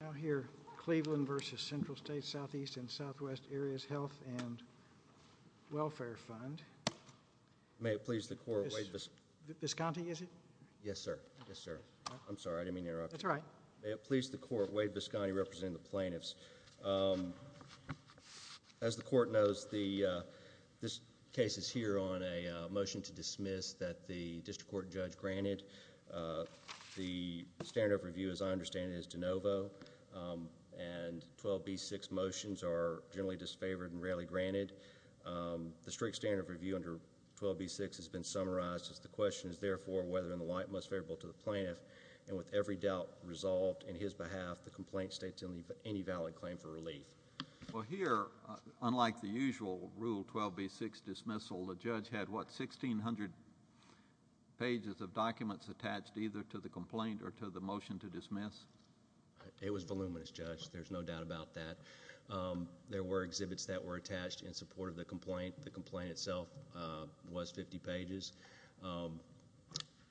Now here, Cleveland v. Central States Southeast and Southwest Areas Health and Welfare Fund. May it please the court, Wade Visconti representing the plaintiffs. As the court knows, this case is here on a motion to dismiss that the district court judge granted. The standard of review, as I understand it, is de novo. And 12b-6 motions are generally disfavored and rarely granted. The strict standard of review under 12b-6 has been summarized as the question is therefore whether in the light and most favorable to the plaintiff. And with every doubt resolved in his behalf, the complaint states any valid claim for relief. Well here, unlike the usual Rule 12b-6 dismissal, the judge had, what, 1,600 pages of documents attached either to the complaint or to the motion to dismiss? It was voluminous, Judge. There's no doubt about that. There were exhibits that were attached in support of the complaint. The complaint itself was 50 pages.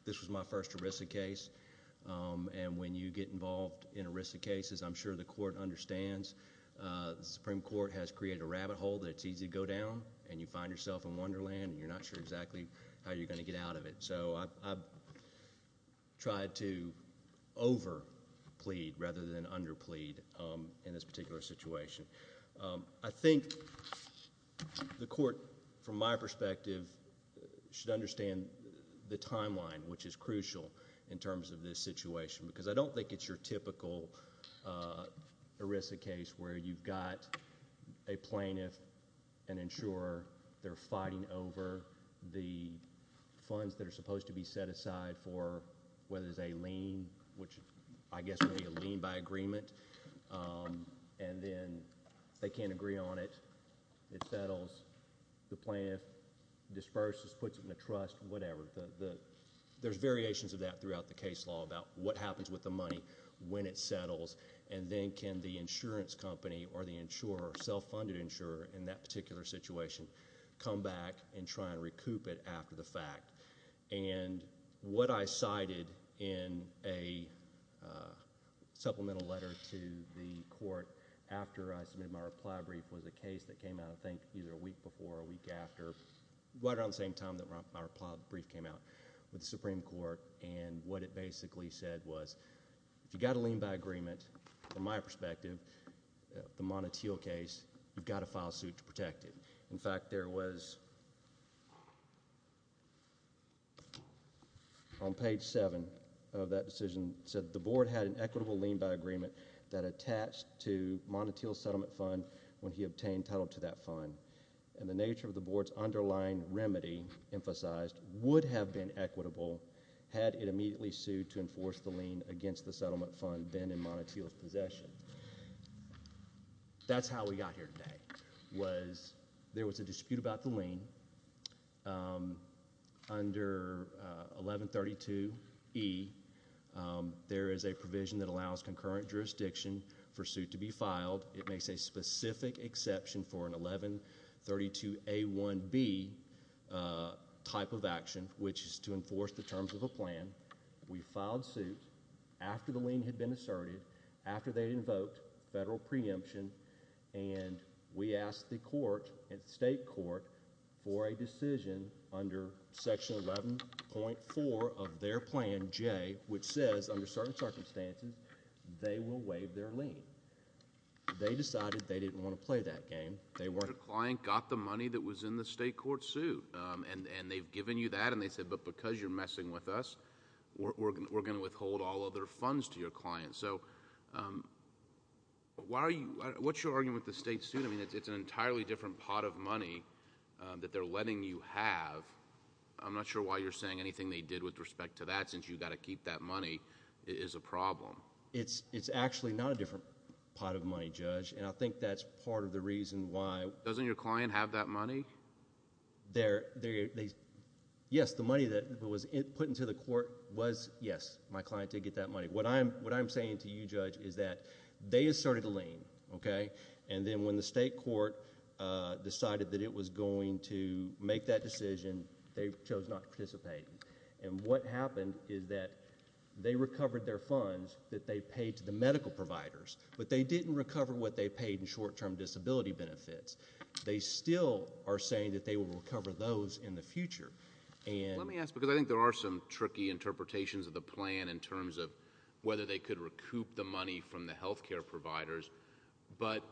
This was my first ERISA case. And when you get involved in ERISA cases, I'm sure the court understands the Supreme Court has created a rabbit hole that it's easy to go down, and you find yourself in Wonderland, and you're not sure exactly how you're going to get out of it. So I've tried to over-plead rather than under-plead in this particular situation. I think the court, from my perspective, should understand the timeline, which is crucial in terms of this situation, because I don't think it's your typical ERISA case where you've got a plaintiff, an insurer. They're fighting over the funds that are supposed to be set aside for whether it's a lien, which I guess would be a lien by agreement. And then they can't agree on it. It settles. The plaintiff disperses, puts it in a trust, whatever. There's variations of that throughout the case law about what happens with the money when it settles, and then can the insurance company or the insurer, self-funded insurer in that particular situation, come back and try and recoup it after the fact. And what I cited in a supplemental letter to the court after I submitted my reply brief was a case that came out, I think, either a week before or a week after, right around the same time that my reply brief came out with the Supreme Court. And what it basically said was if you've got a lien by agreement, from my perspective, the Montotil case, you've got to file suit to protect it. In fact, there was, on page seven of that decision, it said the board had an equitable lien by agreement that attached to Montotil's settlement fund when he obtained title to that fund. And the nature of the board's underlying remedy emphasized would have been equitable had it immediately sued to enforce the lien against the settlement fund then in Montotil's possession. That's how we got here today, was there was a dispute about the lien. Under 1132E, there is a provision that allows concurrent jurisdiction for suit to be filed. It makes a specific exception for an 1132A1B type of action, which is to enforce the terms of a plan. We filed suit after the lien had been asserted, after they invoked federal preemption, and we asked the court, the state court, for a decision under section 11.4 of their plan J, which says under certain circumstances, they will waive their lien. They decided they didn't want to play that game. Your client got the money that was in the state court suit, and they've given you that, and they said, but because you're messing with us, we're going to withhold all other funds to your client. So what's your argument with the state suit? I mean, it's an entirely different pot of money that they're letting you have. I'm not sure why you're saying anything they did with respect to that, since you've got to keep that money. It is a problem. It's actually not a different pot of money, Judge. And I think that's part of the reason why. Doesn't your client have that money? Yes, the money that was put into the court was, yes, my client did get that money. What I'm saying to you, Judge, is that they asserted a lien, okay? And then when the state court decided that it was going to make that decision, they chose not to participate. And what happened is that they recovered their funds that they paid to the medical providers, but they didn't recover what they paid in short-term disability benefits. They still are saying that they will recover those in the future. Let me ask, because I think there are some tricky interpretations of the plan in terms of whether they could recoup the money from the health care providers. But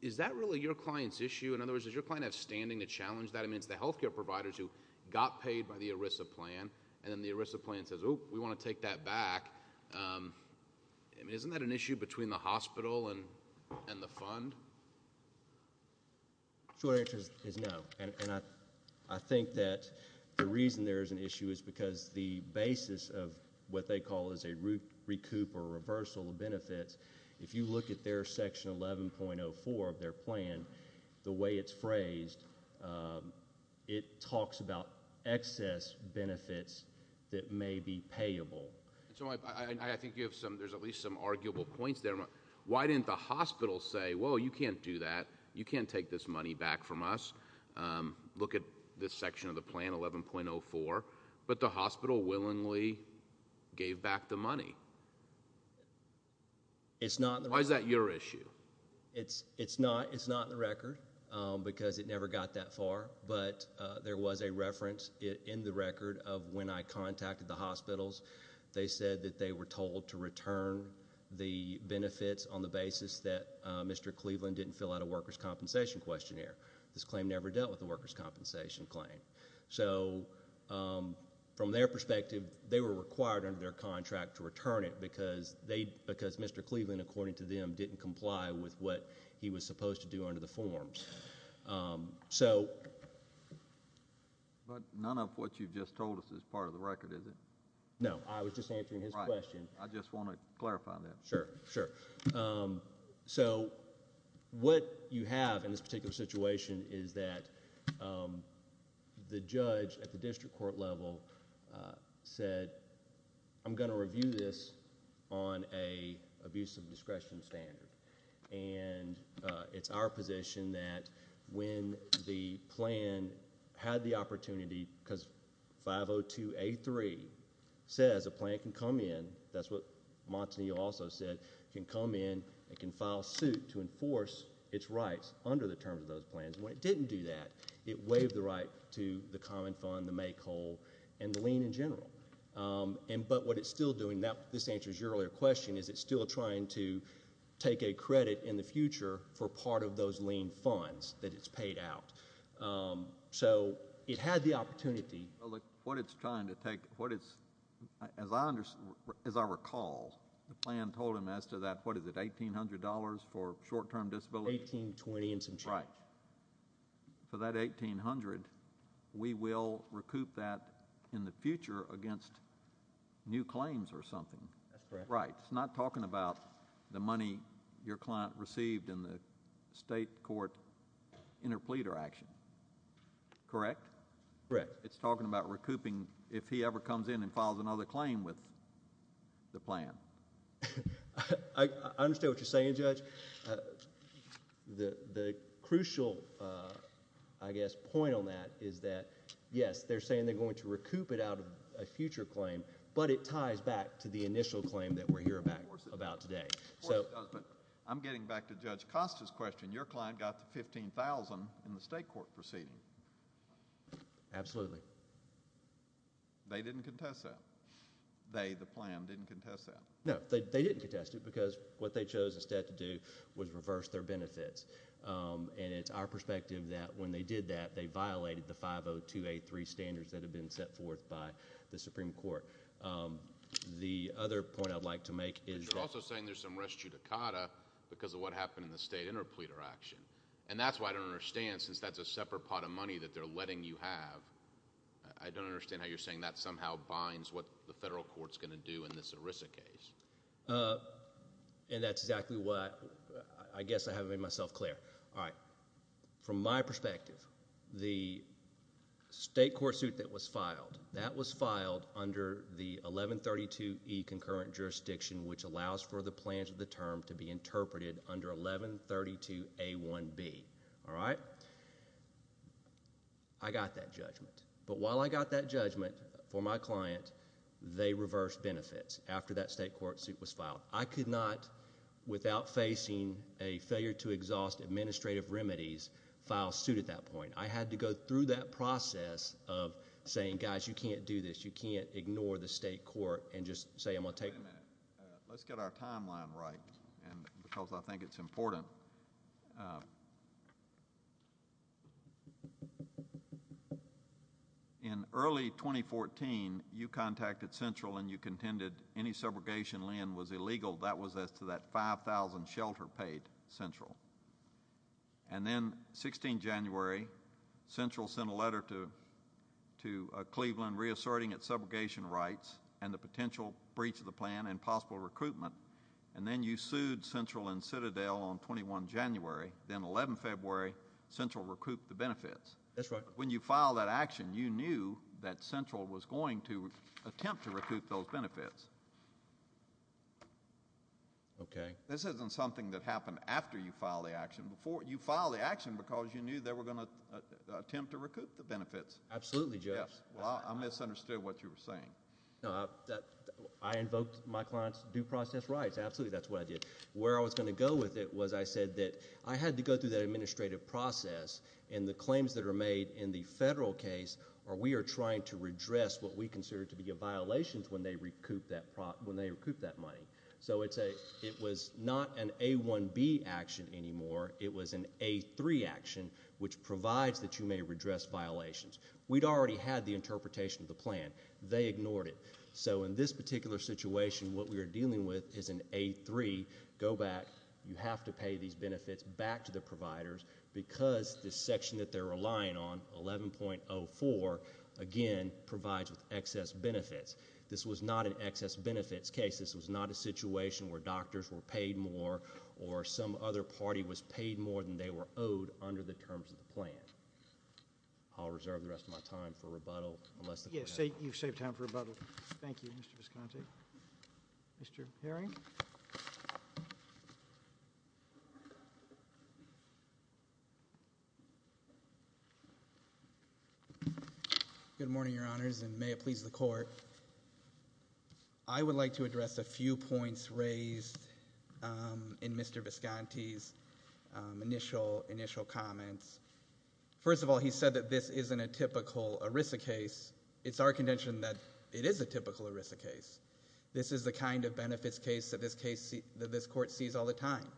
is that really your client's issue? In other words, does your client have standing to challenge that? I mean, it's the health care providers who got paid by the ERISA plan, and then the ERISA plan says, oh, we want to take that back. I mean, isn't that an issue between the hospital and the fund? The short answer is no. And I think that the reason there is an issue is because the basis of what they call is a recoup or reversal of benefits, if you look at their Section 11.04 of their plan, the way it's phrased, it talks about excess benefits that may be payable. I think there's at least some arguable points there. Why didn't the hospital say, well, you can't do that, you can't take this money back from us, look at this section of the plan, 11.04, but the hospital willingly gave back the money? Why is that your issue? It's not in the record because it never got that far, but there was a reference in the record of when I contacted the hospitals, they said that they were told to return the benefits on the basis that Mr. Cleveland didn't fill out a workers' compensation questionnaire. This claim never dealt with the workers' compensation claim. So from their perspective, they were required under their contract to return it because Mr. Cleveland, according to them, didn't comply with what he was supposed to do under the forms. But none of what you've just told us is part of the record, is it? No, I was just answering his question. I just want to clarify that. Sure, sure. So what you have in this particular situation is that the judge at the district court level said, I'm going to review this on an abuse of discretion standard. And it's our position that when the plan had the opportunity, because 502A3 says a plan can come in, that's what Montanillo also said, can come in and can file suit to enforce its rights under the terms of those plans. When it didn't do that, it waived the right to the common fund, the make whole, and the lien in general. But what it's still doing, this answers your earlier question, is it's still trying to take a credit in the future for part of those lien funds that it's paid out. So it had the opportunity. What it's trying to take, as I recall, the plan told him as to that, what is it, $1,800 for short-term disability? $1,820 and some change. Right. For that $1,800, we will recoup that in the future against new claims or something. That's correct. Right. It's not talking about the money your client received in the state court interpleader action. Correct? Correct. It's talking about recouping if he ever comes in and files another claim with the plan. I understand what you're saying, Judge. The crucial, I guess, point on that is that, yes, they're saying they're going to recoup it out of a future claim, but it ties back to the initial claim that we're hearing about today. Of course it does, but I'm getting back to Judge Costa's question. Your client got the $15,000 in the state court proceeding. Absolutely. They didn't contest that? They, the plan, didn't contest that? No, they didn't contest it because what they chose instead to do was reverse their benefits, and it's our perspective that when they did that, they violated the 50283 standards that had been set forth by the Supreme Court. The other point I'd like to make is that— But you're also saying there's some res judicata because of what happened in the state interpleader action, and that's why I don't understand since that's a separate pot of money that they're letting you have. I don't understand how you're saying that somehow binds what the federal court's going to do in this ERISA case. And that's exactly why—I guess I haven't made myself clear. All right. From my perspective, the state court suit that was filed, that was filed under the 1132E concurrent jurisdiction, which allows for the plans of the term to be interpreted under 1132A1B, all right? I got that judgment. But while I got that judgment for my client, they reversed benefits after that state court suit was filed. I could not, without facing a failure to exhaust administrative remedies, file suit at that point. I had to go through that process of saying, guys, you can't do this. You can't ignore the state court and just say I'm going to take— Wait a minute. Let's get our timeline right because I think it's important. In early 2014, you contacted Central and you contended any subrogation lien was illegal. That was as to that $5,000 shelter paid Central. And then 16 January, Central sent a letter to Cleveland reasserting its subrogation rights and the potential breach of the plan and possible recruitment. And then you sued Central and Citadel on 21 January. Then 11 February, Central recouped the benefits. That's right. When you filed that action, you knew that Central was going to attempt to recoup those benefits. Okay. This isn't something that happened after you filed the action. You filed the action because you knew they were going to attempt to recoup the benefits. Absolutely, Jeff. Well, I misunderstood what you were saying. No, I invoked my client's due process rights. Absolutely, that's what I did. Where I was going to go with it was I said that I had to go through that administrative process and the claims that are made in the federal case are we are trying to redress what we consider to be a violation when they recoup that money. So it was not an A1B action anymore. It was an A3 action, which provides that you may redress violations. We'd already had the interpretation of the plan. They ignored it. So in this particular situation, what we are dealing with is an A3, go back, you have to pay these benefits back to the providers because this section that they're relying on, 11.04, again provides with excess benefits. This was not an excess benefits case. This was not a situation where doctors were paid more or some other party was paid more than they were owed under the terms of the plan. I'll reserve the rest of my time for rebuttal. Yes, you've saved time for rebuttal. Thank you, Mr. Visconti. Mr. Herring? Good morning, Your Honors, and may it please the Court. I would like to address a few points raised in Mr. Visconti's initial comments. First of all, he said that this isn't a typical ERISA case. It's our contention that it is a typical ERISA case. This is the kind of benefits case that this Court sees all the time.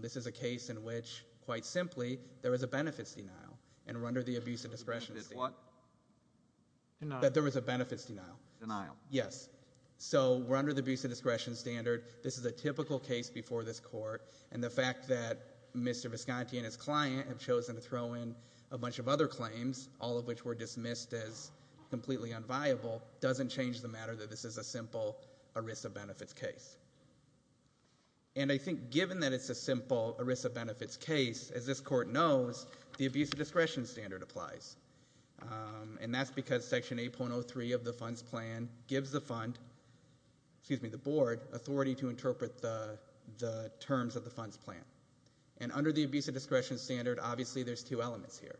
This is a case in which, quite simply, there is a benefits denial and we're under the abuse of discretion. Benefits what? That there was a benefits denial. Denial. Yes. So we're under the abuse of discretion standard. This is a typical case before this Court, and the fact that Mr. Visconti and his client have chosen to throw in a bunch of other claims, all of which were dismissed as completely unviable, doesn't change the matter that this is a simple ERISA benefits case. And I think given that it's a simple ERISA benefits case, as this Court knows, the abuse of discretion standard applies. And that's because Section 8.03 of the Funds Plan gives the Fund, excuse me, the Board, authority to interpret the terms of the Funds Plan. And under the abuse of discretion standard, obviously there's two elements here.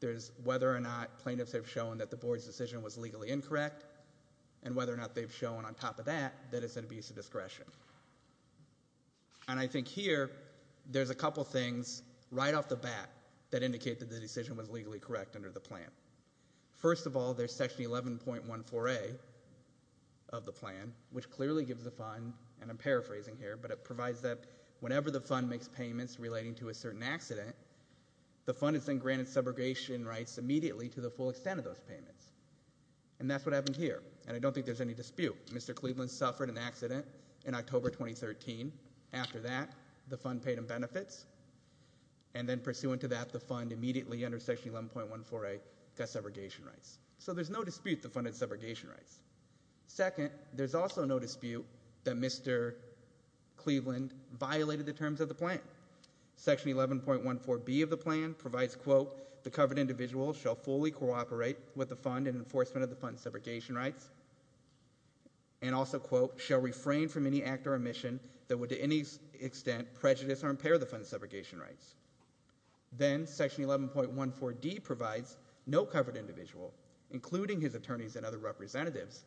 There's whether or not plaintiffs have shown that the Board's decision was legally incorrect and whether or not they've shown on top of that that it's an abuse of discretion. And I think here there's a couple things right off the bat that indicate that the decision was legally correct under the plan. First of all, there's Section 11.14a of the plan, which clearly gives the Fund, and I'm paraphrasing here, but it provides that whenever the Fund makes payments relating to a certain accident, the Fund is then granted subrogation rights immediately to the full extent of those payments. And that's what happened here, and I don't think there's any dispute. Mr. Cleveland suffered an accident in October 2013. After that, the Fund paid him benefits, and then pursuant to that the Fund immediately under Section 11.14a got subrogation rights. So there's no dispute the Fund had subrogation rights. Second, there's also no dispute that Mr. Cleveland violated the terms of the plan. Section 11.14b of the plan provides, quote, the covered individual shall fully cooperate with the Fund in enforcement of the Fund's subrogation rights, and also, quote, shall refrain from any act or omission that would to any extent prejudice or impair the Fund's subrogation rights. Then Section 11.14d provides no covered individual, including his attorneys and other representatives,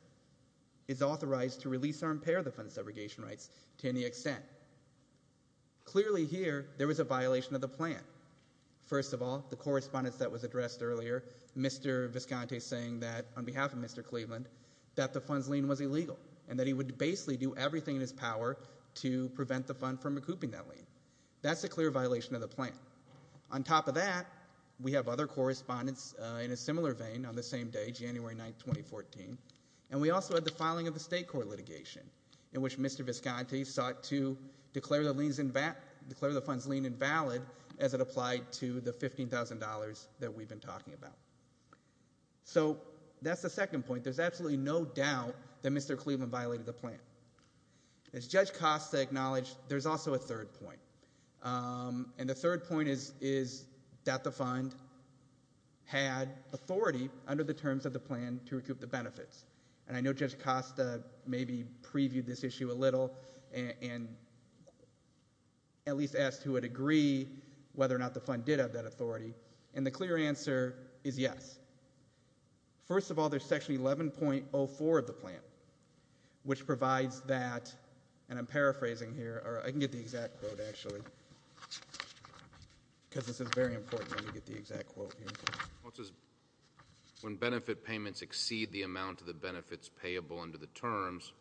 is authorized to release or impair the Fund's subrogation rights to any extent. Clearly here there was a violation of the plan. First of all, the correspondence that was addressed earlier, Mr. Visconti saying that on behalf of Mr. Cleveland that the Fund's lien was illegal and that he would basically do everything in his power to prevent the Fund from recouping that lien. That's a clear violation of the plan. On top of that, we have other correspondence in a similar vein on the same day, January 9, 2014, and we also had the filing of a state court litigation in which Mr. Visconti sought to declare the Fund's lien invalid as it applied to the $15,000 that we've been talking about. So that's the second point. There's absolutely no doubt that Mr. Cleveland violated the plan. As Judge Costa acknowledged, there's also a third point, and the third point is that the Fund had authority under the terms of the plan to recoup the benefits. And I know Judge Costa maybe previewed this issue a little and at least asked who would agree whether or not the Fund did have that authority, and the clear answer is yes. First of all, there's Section 11.04 of the plan which provides that, and I'm paraphrasing here, or I can get the exact quote actually because this is very important to get the exact quote here. When benefit payments exceed the amount of the benefits payable under the terms,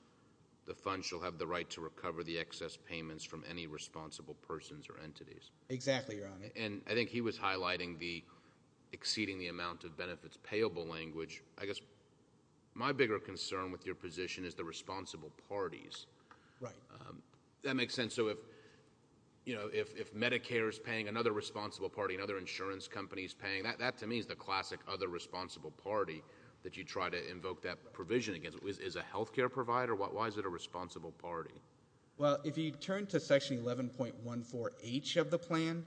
the Fund shall have the right to recover the excess payments from any responsible persons or entities. Exactly, Your Honor. And I think he was highlighting the exceeding the amount of benefits payable language. I guess my bigger concern with your position is the responsible parties. Right. That makes sense. So if Medicare is paying another responsible party, another insurance company is paying, that to me is the classic other responsible party that you try to invoke that provision against. Is it a health care provider? Why is it a responsible party? Well, if you turn to Section 11.14H of the plan,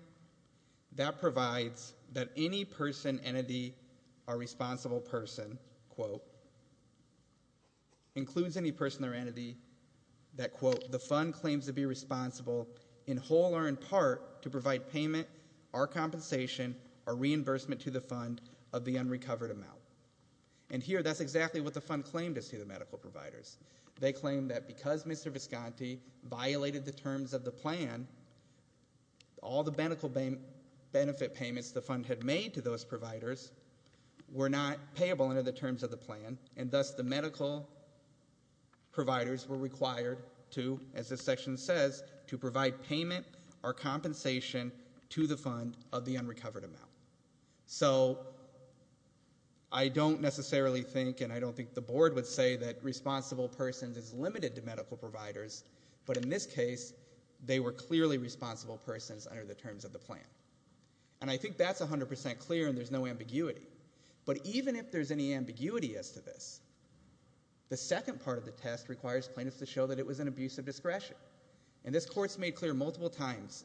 that provides that any person, entity, or responsible person, quote, includes any person or entity that, quote, the Fund claims to be responsible in whole or in part to provide payment or compensation or reimbursement to the Fund of the unrecovered amount. And here, that's exactly what the Fund claimed as to the medical providers. They claimed that because Mr. Visconti violated the terms of the plan, all the benefit payments the Fund had made to those providers were not payable under the terms of the plan, and thus the medical providers were required to, as this section says, to provide payment or compensation to the Fund of the unrecovered amount. So I don't necessarily think, and I don't think the Board would say, that responsible persons is limited to medical providers, but in this case they were clearly responsible persons under the terms of the plan. And I think that's 100% clear and there's no ambiguity. But even if there's any ambiguity as to this, the second part of the test requires plaintiffs to show that it was an abuse of discretion. And this Court's made clear multiple times,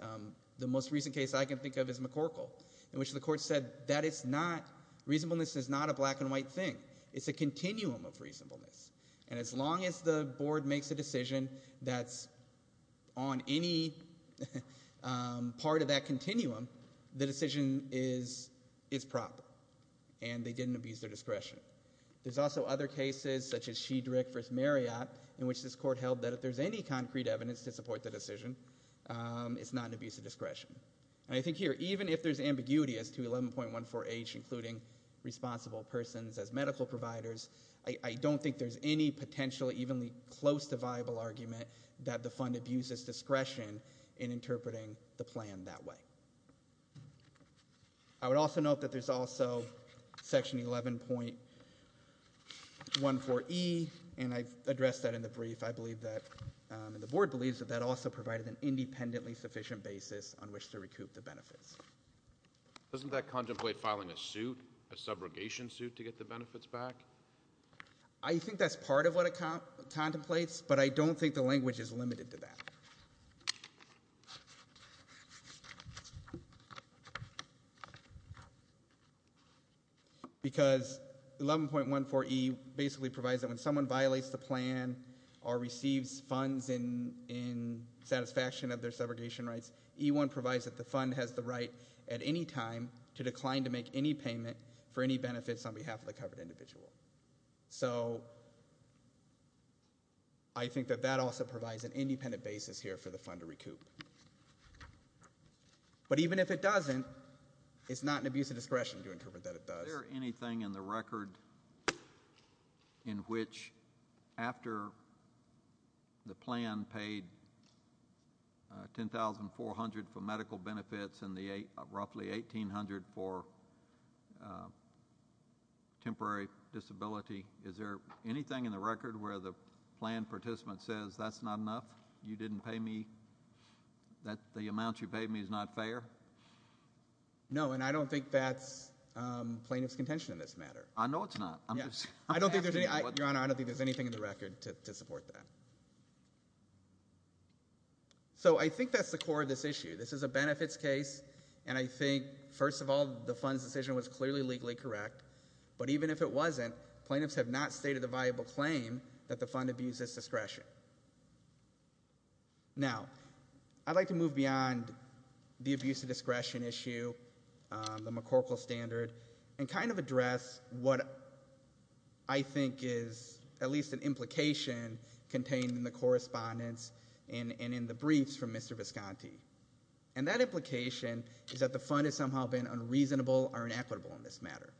the most recent case I can think of is McCorkle, in which the Court said that it's not, reasonableness is not a black and white thing. It's a continuum of reasonableness. And as long as the Board makes a decision that's on any part of that continuum, the decision is proper and they didn't abuse their discretion. There's also other cases, such as Shedrick v. Marriott, in which this Court held that if there's any concrete evidence to support the decision, it's not an abuse of discretion. And I think here, even if there's ambiguity as to 11.14h, including responsible persons as medical providers, I don't think there's any potential evenly close to viable argument that the fund abuses discretion in interpreting the plan that way. I would also note that there's also section 11.14e, and I've addressed that in the brief. I believe that, and the Board believes, that that also provided an independently sufficient basis on which to recoup the benefits. Doesn't that contemplate filing a suit, a subrogation suit, to get the benefits back? I think that's part of what it contemplates, but I don't think the language is limited to that. Because 11.14e basically provides that when someone violates the plan or receives funds in satisfaction of their subrogation rights, E-1 provides that the fund has the right at any time to decline to make any payment for any benefits on behalf of the covered individual. So I think that that also provides an independent basis here for the fund to recoup. But even if it doesn't, it's not an abuse of discretion to interpret that it does. Is there anything in the record in which, after the plan paid $10,400 for medical benefits and roughly $1,800 for temporary disability, is there anything in the record where the plan participant says that's not enough, you didn't pay me, the amount you paid me is not fair? No, and I don't think that's plaintiff's contention in this matter. I know it's not. I don't think there's anything in the record to support that. So I think that's the core of this issue. This is a benefits case, and I think, first of all, the fund's decision was clearly legally correct. But even if it wasn't, plaintiffs have not stated a viable claim that the fund abuses discretion. Now, I'd like to move beyond the abuse of discretion issue, the McCorkle standard, and kind of address what I think is at least an implication contained in the correspondence and in the briefs from Mr. Visconti, and that implication is that the fund has somehow been unreasonable or inequitable in this matter.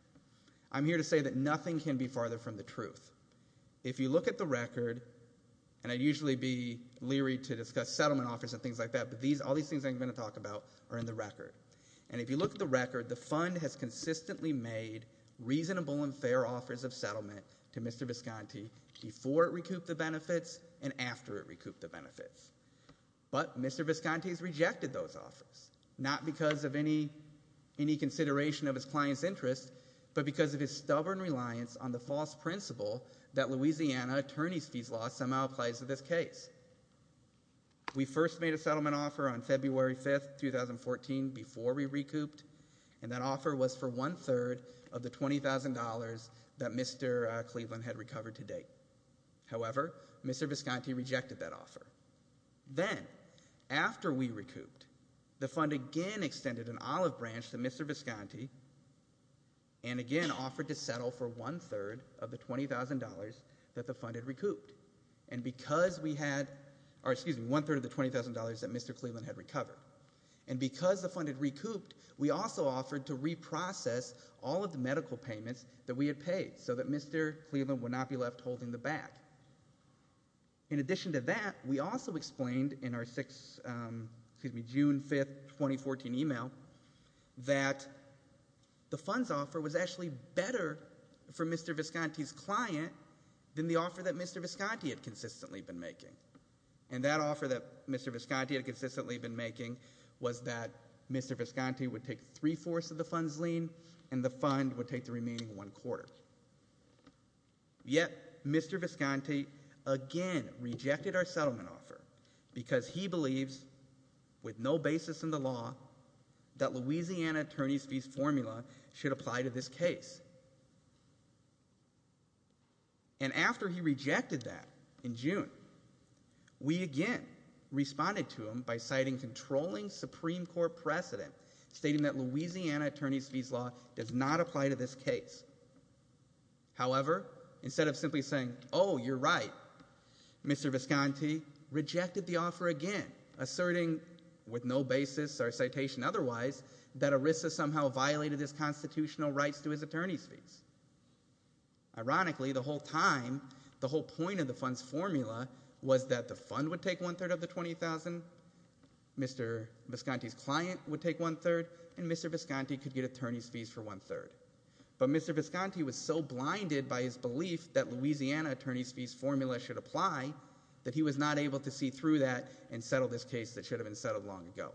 I'm here to say that nothing can be farther from the truth. If you look at the record, and I'd usually be leery to discuss settlement offers and things like that, but all these things I'm going to talk about are in the record, and if you look at the record, the fund has consistently made reasonable and fair offers of settlement to Mr. Visconti before it recouped the benefits and after it recouped the benefits. But Mr. Visconti has rejected those offers, not because of any consideration of his client's interest, but because of his stubborn reliance on the false principle that Louisiana attorney's fees law somehow applies to this case. We first made a settlement offer on February 5, 2014, before we recouped, and that offer was for one-third of the $20,000 that Mr. Cleveland had recovered to date. However, Mr. Visconti rejected that offer. Then, after we recouped, the fund again extended an olive branch to Mr. Visconti and again offered to settle for one-third of the $20,000 that Mr. Cleveland had recovered. And because the fund had recouped, we also offered to reprocess all of the medical payments that we had paid so that Mr. Cleveland would not be left holding the bag. In addition to that, we also explained in our June 5, 2014, email that the funds offer was actually better for Mr. Visconti's client than the offer that Mr. Visconti had consistently been making. And that offer that Mr. Visconti had consistently been making was that Mr. Visconti would take three-fourths of the fund's lien and the fund would take the remaining one-quarter. Yet, Mr. Visconti again rejected our settlement offer because he believes, with no basis in the law, that Louisiana attorney's fees formula should apply to this case. And after he rejected that in June, we again responded to him by citing controlling Supreme Court precedent, stating that Louisiana attorney's fees law does not apply to this case. However, instead of simply saying, oh, you're right, Mr. Visconti rejected the offer again, asserting, with no basis or citation otherwise, that ERISA somehow violated his constitutional rights to his attorney's fees. Ironically, the whole time, the whole point of the fund's formula was that the fund would take one-third of the $20,000, Mr. Visconti's client would take one-third, and Mr. Visconti could get attorney's fees for one-third. But Mr. Visconti was so blinded by his belief that Louisiana attorney's fees formula should apply that he was not able to see through that and settle this case that should have been settled long ago.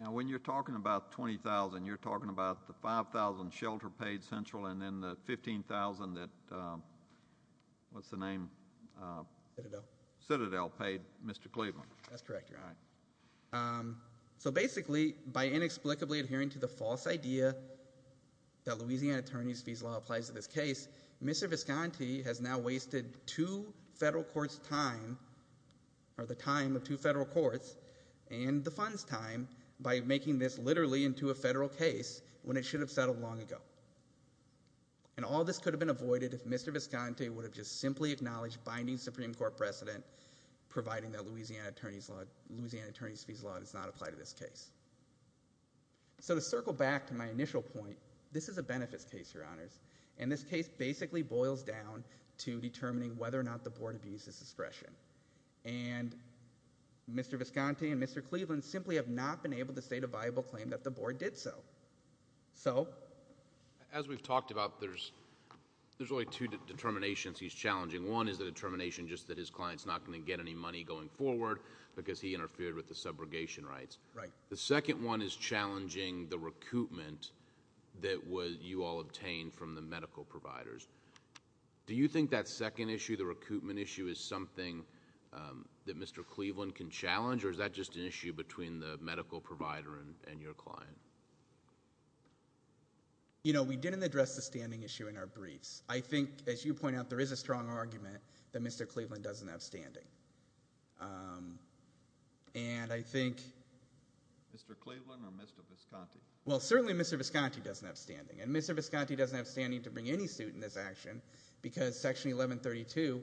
Now, when you're talking about $20,000, you're talking about the $5,000 Shelter paid Central, and then the $15,000 that – what's the name? Citadel. Citadel paid Mr. Cleveland. That's correct, Your Honor. So basically, by inexplicably adhering to the false idea that Louisiana attorney's fees law applies to this case, Mr. Visconti has now wasted two federal courts' time or the time of two federal courts and the fund's time by making this literally into a federal case when it should have settled long ago. And all this could have been avoided if Mr. Visconti would have just simply acknowledged binding Supreme Court precedent, providing that Louisiana attorney's fees law does not apply to this case. So to circle back to my initial point, this is a benefits case, Your Honors, and this case basically boils down to determining whether or not the board abuses discretion. And Mr. Visconti and Mr. Cleveland simply have not been able to state a viable claim that the board did so. So? As we've talked about, there's really two determinations he's challenging. One is the determination just that his client's not going to get any money going forward because he interfered with the subrogation rights. Right. The second one is challenging the recoupment that you all obtained from the medical providers. Do you think that second issue, the recoupment issue, is something that Mr. Cleveland can challenge, or is that just an issue between the medical provider and your client? You know, we didn't address the standing issue in our briefs. I think, as you point out, there is a strong argument that Mr. Cleveland doesn't have standing. And I think... Mr. Cleveland or Mr. Visconti? Well, certainly Mr. Visconti doesn't have standing, and Mr. Visconti doesn't have standing to bring any suit in this action because Section 1132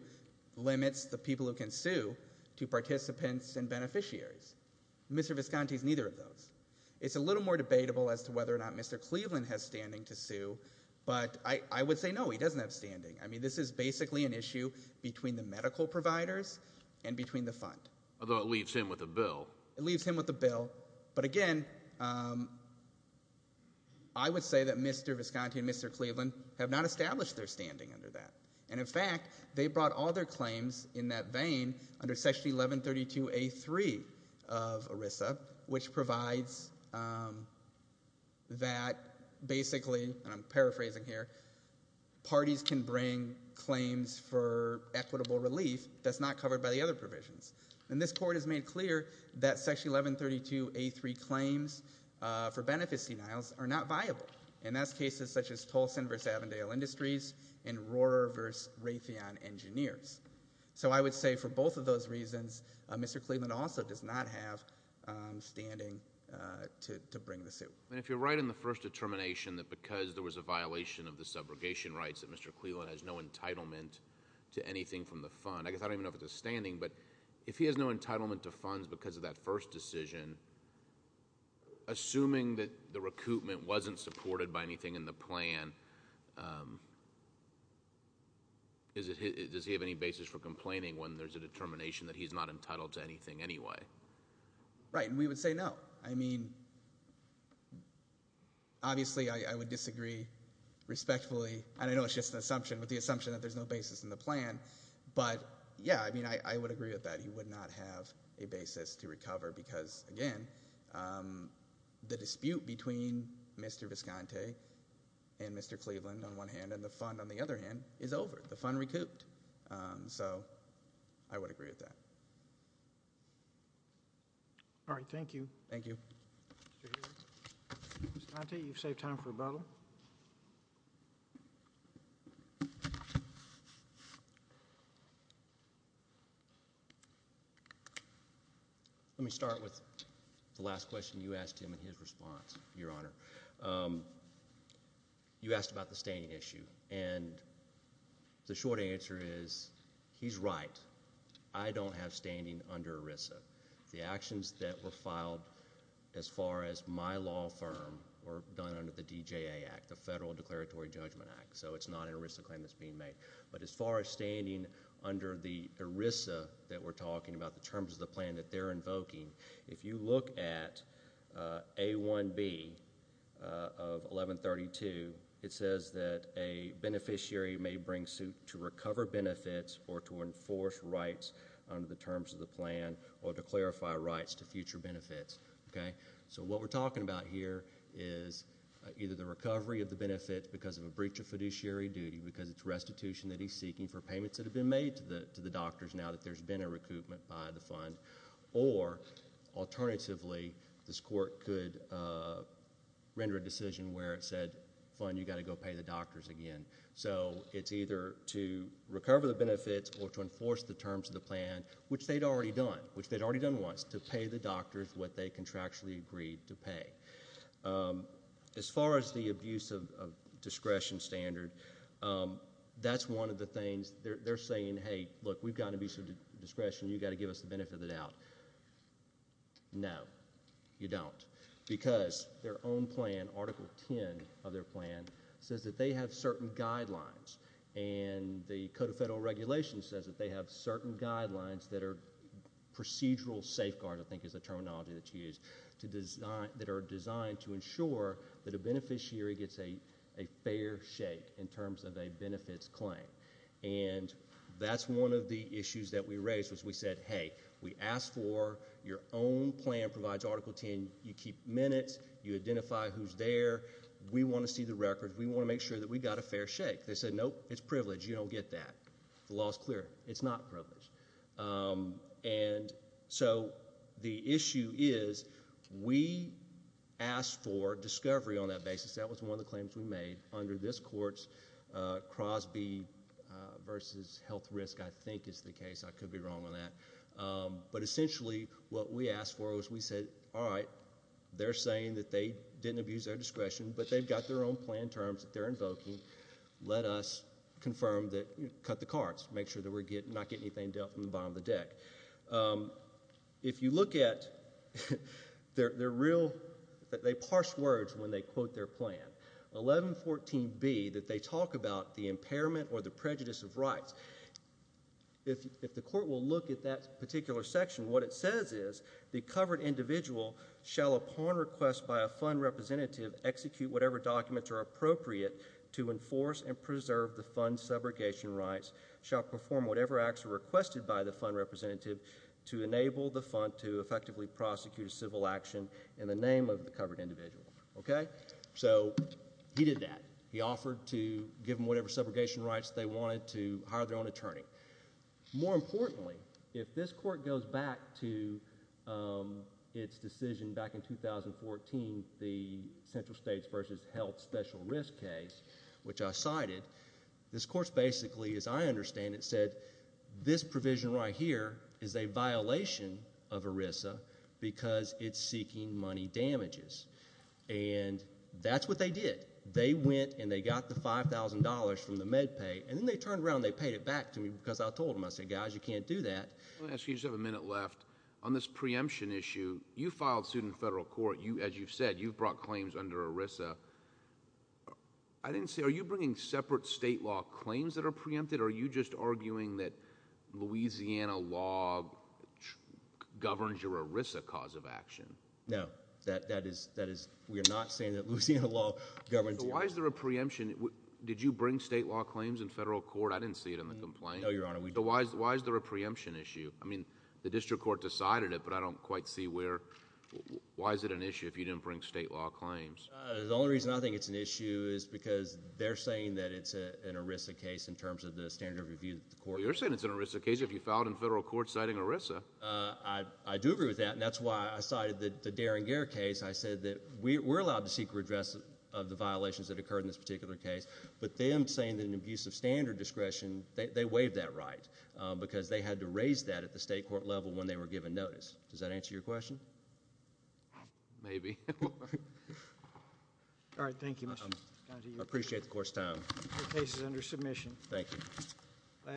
limits the people who can sue to participants and beneficiaries. Mr. Visconti is neither of those. It's a little more debatable as to whether or not Mr. Cleveland has standing to sue, but I would say no, he doesn't have standing. I mean, this is basically an issue between the medical providers and between the fund. Although it leaves him with a bill. It leaves him with a bill, but again, I would say that Mr. Visconti and Mr. Cleveland have not established their standing under that. And, in fact, they brought all their claims in that vein under Section 1132A3 of ERISA, which provides that basically, and I'm paraphrasing here, parties can bring claims for equitable relief that's not covered by the other provisions. And this Court has made clear that Section 1132A3 claims for benefit seniles are not viable, and that's cases such as Tolson v. Avondale Industries and Rohrer v. Raytheon Engineers. So I would say for both of those reasons, Mr. Cleveland also does not have standing to bring the suit. And if you're right in the first determination that because there was a violation of the subrogation rights that Mr. Cleveland has no entitlement to anything from the fund. I guess I don't even know if it's a standing, but if he has no entitlement to funds because of that first decision, Assuming that the recoupment wasn't supported by anything in the plan, does he have any basis for complaining when there's a determination that he's not entitled to anything anyway? Right, and we would say no. I mean, obviously, I would disagree respectfully. And I know it's just an assumption, but the assumption that there's no basis in the plan. But yeah, I mean, I would agree with that. He would not have a basis to recover because, again, the dispute between Mr. Visconti and Mr. Cleveland on one hand and the fund on the other hand is over. The fund recouped. So I would agree with that. All right. Thank you. Thank you. You've saved time for rebuttal. Let me start with the last question you asked him in his response, Your Honor. You asked about the standing issue, and the short answer is he's right. I don't have standing under ERISA. The actions that were filed as far as my law firm were done under the DJA Act, the Federal Declaratory Judgment Act. So it's not an ERISA claim that's being made. But as far as standing under the ERISA that we're talking about, the terms of the plan that they're invoking, if you look at A1B of 1132, it says that a beneficiary may bring suit to recover benefits or to enforce rights under the terms of the plan or to clarify rights to future benefits. So what we're talking about here is either the recovery of the benefits because of a breach of fiduciary duty, because it's restitution that he's seeking for payments that have been made to the doctors now that there's been a recoupment by the fund, or alternatively, this court could render a decision where it said, fine, you've got to go pay the doctors again. So it's either to recover the benefits or to enforce the terms of the plan, which they'd already done, which they'd already done once, to pay the doctors what they contractually agreed to pay. As far as the abuse of discretion standard, that's one of the things they're saying, hey, look, we've got abuse of discretion, you've got to give us the benefit of the doubt. No, you don't, because their own plan, Article 10 of their plan, says that they have certain guidelines, and the Code of Federal Regulations says that they have certain guidelines that are procedural safeguards, I think is the terminology that's used, that are designed to ensure that a beneficiary gets a fair shake in terms of a benefits claim. And that's one of the issues that we raised, which we said, hey, we asked for your own plan provides Article 10. You keep minutes. You identify who's there. We want to see the records. We want to make sure that we got a fair shake. They said, nope, it's privilege. You don't get that. The law is clear. It's not privilege. And so the issue is we asked for discovery on that basis. That was one of the claims we made under this court's Crosby v. Health Risk, I think is the case. I could be wrong on that. But essentially what we asked for was we said, all right, they're saying that they didn't abuse their discretion, but they've got their own plan terms that they're invoking. Let us confirm that, cut the cards, make sure that we're not getting anything dealt from the bottom of the deck. If you look at their real, they parse words when they quote their plan. 1114B, that they talk about the impairment or the prejudice of rights. If the court will look at that particular section, what it says is, the covered individual shall, upon request by a fund representative, execute whatever documents are appropriate to enforce and preserve the fund's subrogation rights, shall perform whatever acts are requested by the fund representative to enable the fund to effectively prosecute a civil action in the name of the covered individual. So he did that. He offered to give them whatever subrogation rights they wanted to hire their own attorney. More importantly, if this court goes back to its decision back in 2014, the central states versus health special risk case, which I cited, this court basically, as I understand it, said this provision right here is a violation of ERISA because it's seeking money damages. And that's what they did. They went and they got the $5,000 from the MedPay, and then they turned around and they paid it back to me because I told them. I said, guys, you can't do that. Let me ask you, you just have a minute left. On this preemption issue, you filed suit in federal court. As you've said, you've brought claims under ERISA. Are you bringing separate state law claims that are preempted, or are you just arguing that Louisiana law governs your ERISA cause of action? No. We are not saying that Louisiana law governs your ERISA. Why is there a preemption? Did you bring state law claims in federal court? I didn't see it in the complaint. No, Your Honor, we didn't. Why is there a preemption issue? I mean, the district court decided it, but I don't quite see where. Why is it an issue if you didn't bring state law claims? The only reason I think it's an issue is because they're saying that it's an ERISA case in terms of the standard of review that the court— Well, you're saying it's an ERISA case if you filed in federal court citing ERISA. I do agree with that, and that's why I cited the Derringer case. I said that we're allowed to seek redress of the violations that occurred in this particular case, but them saying that an abuse of standard discretion, they waived that right because they had to raise that at the state court level when they were given notice. Does that answer your question? Maybe. All right, thank you, Mr. County Attorney. I appreciate the court's time. Your case is under submission. Thank you.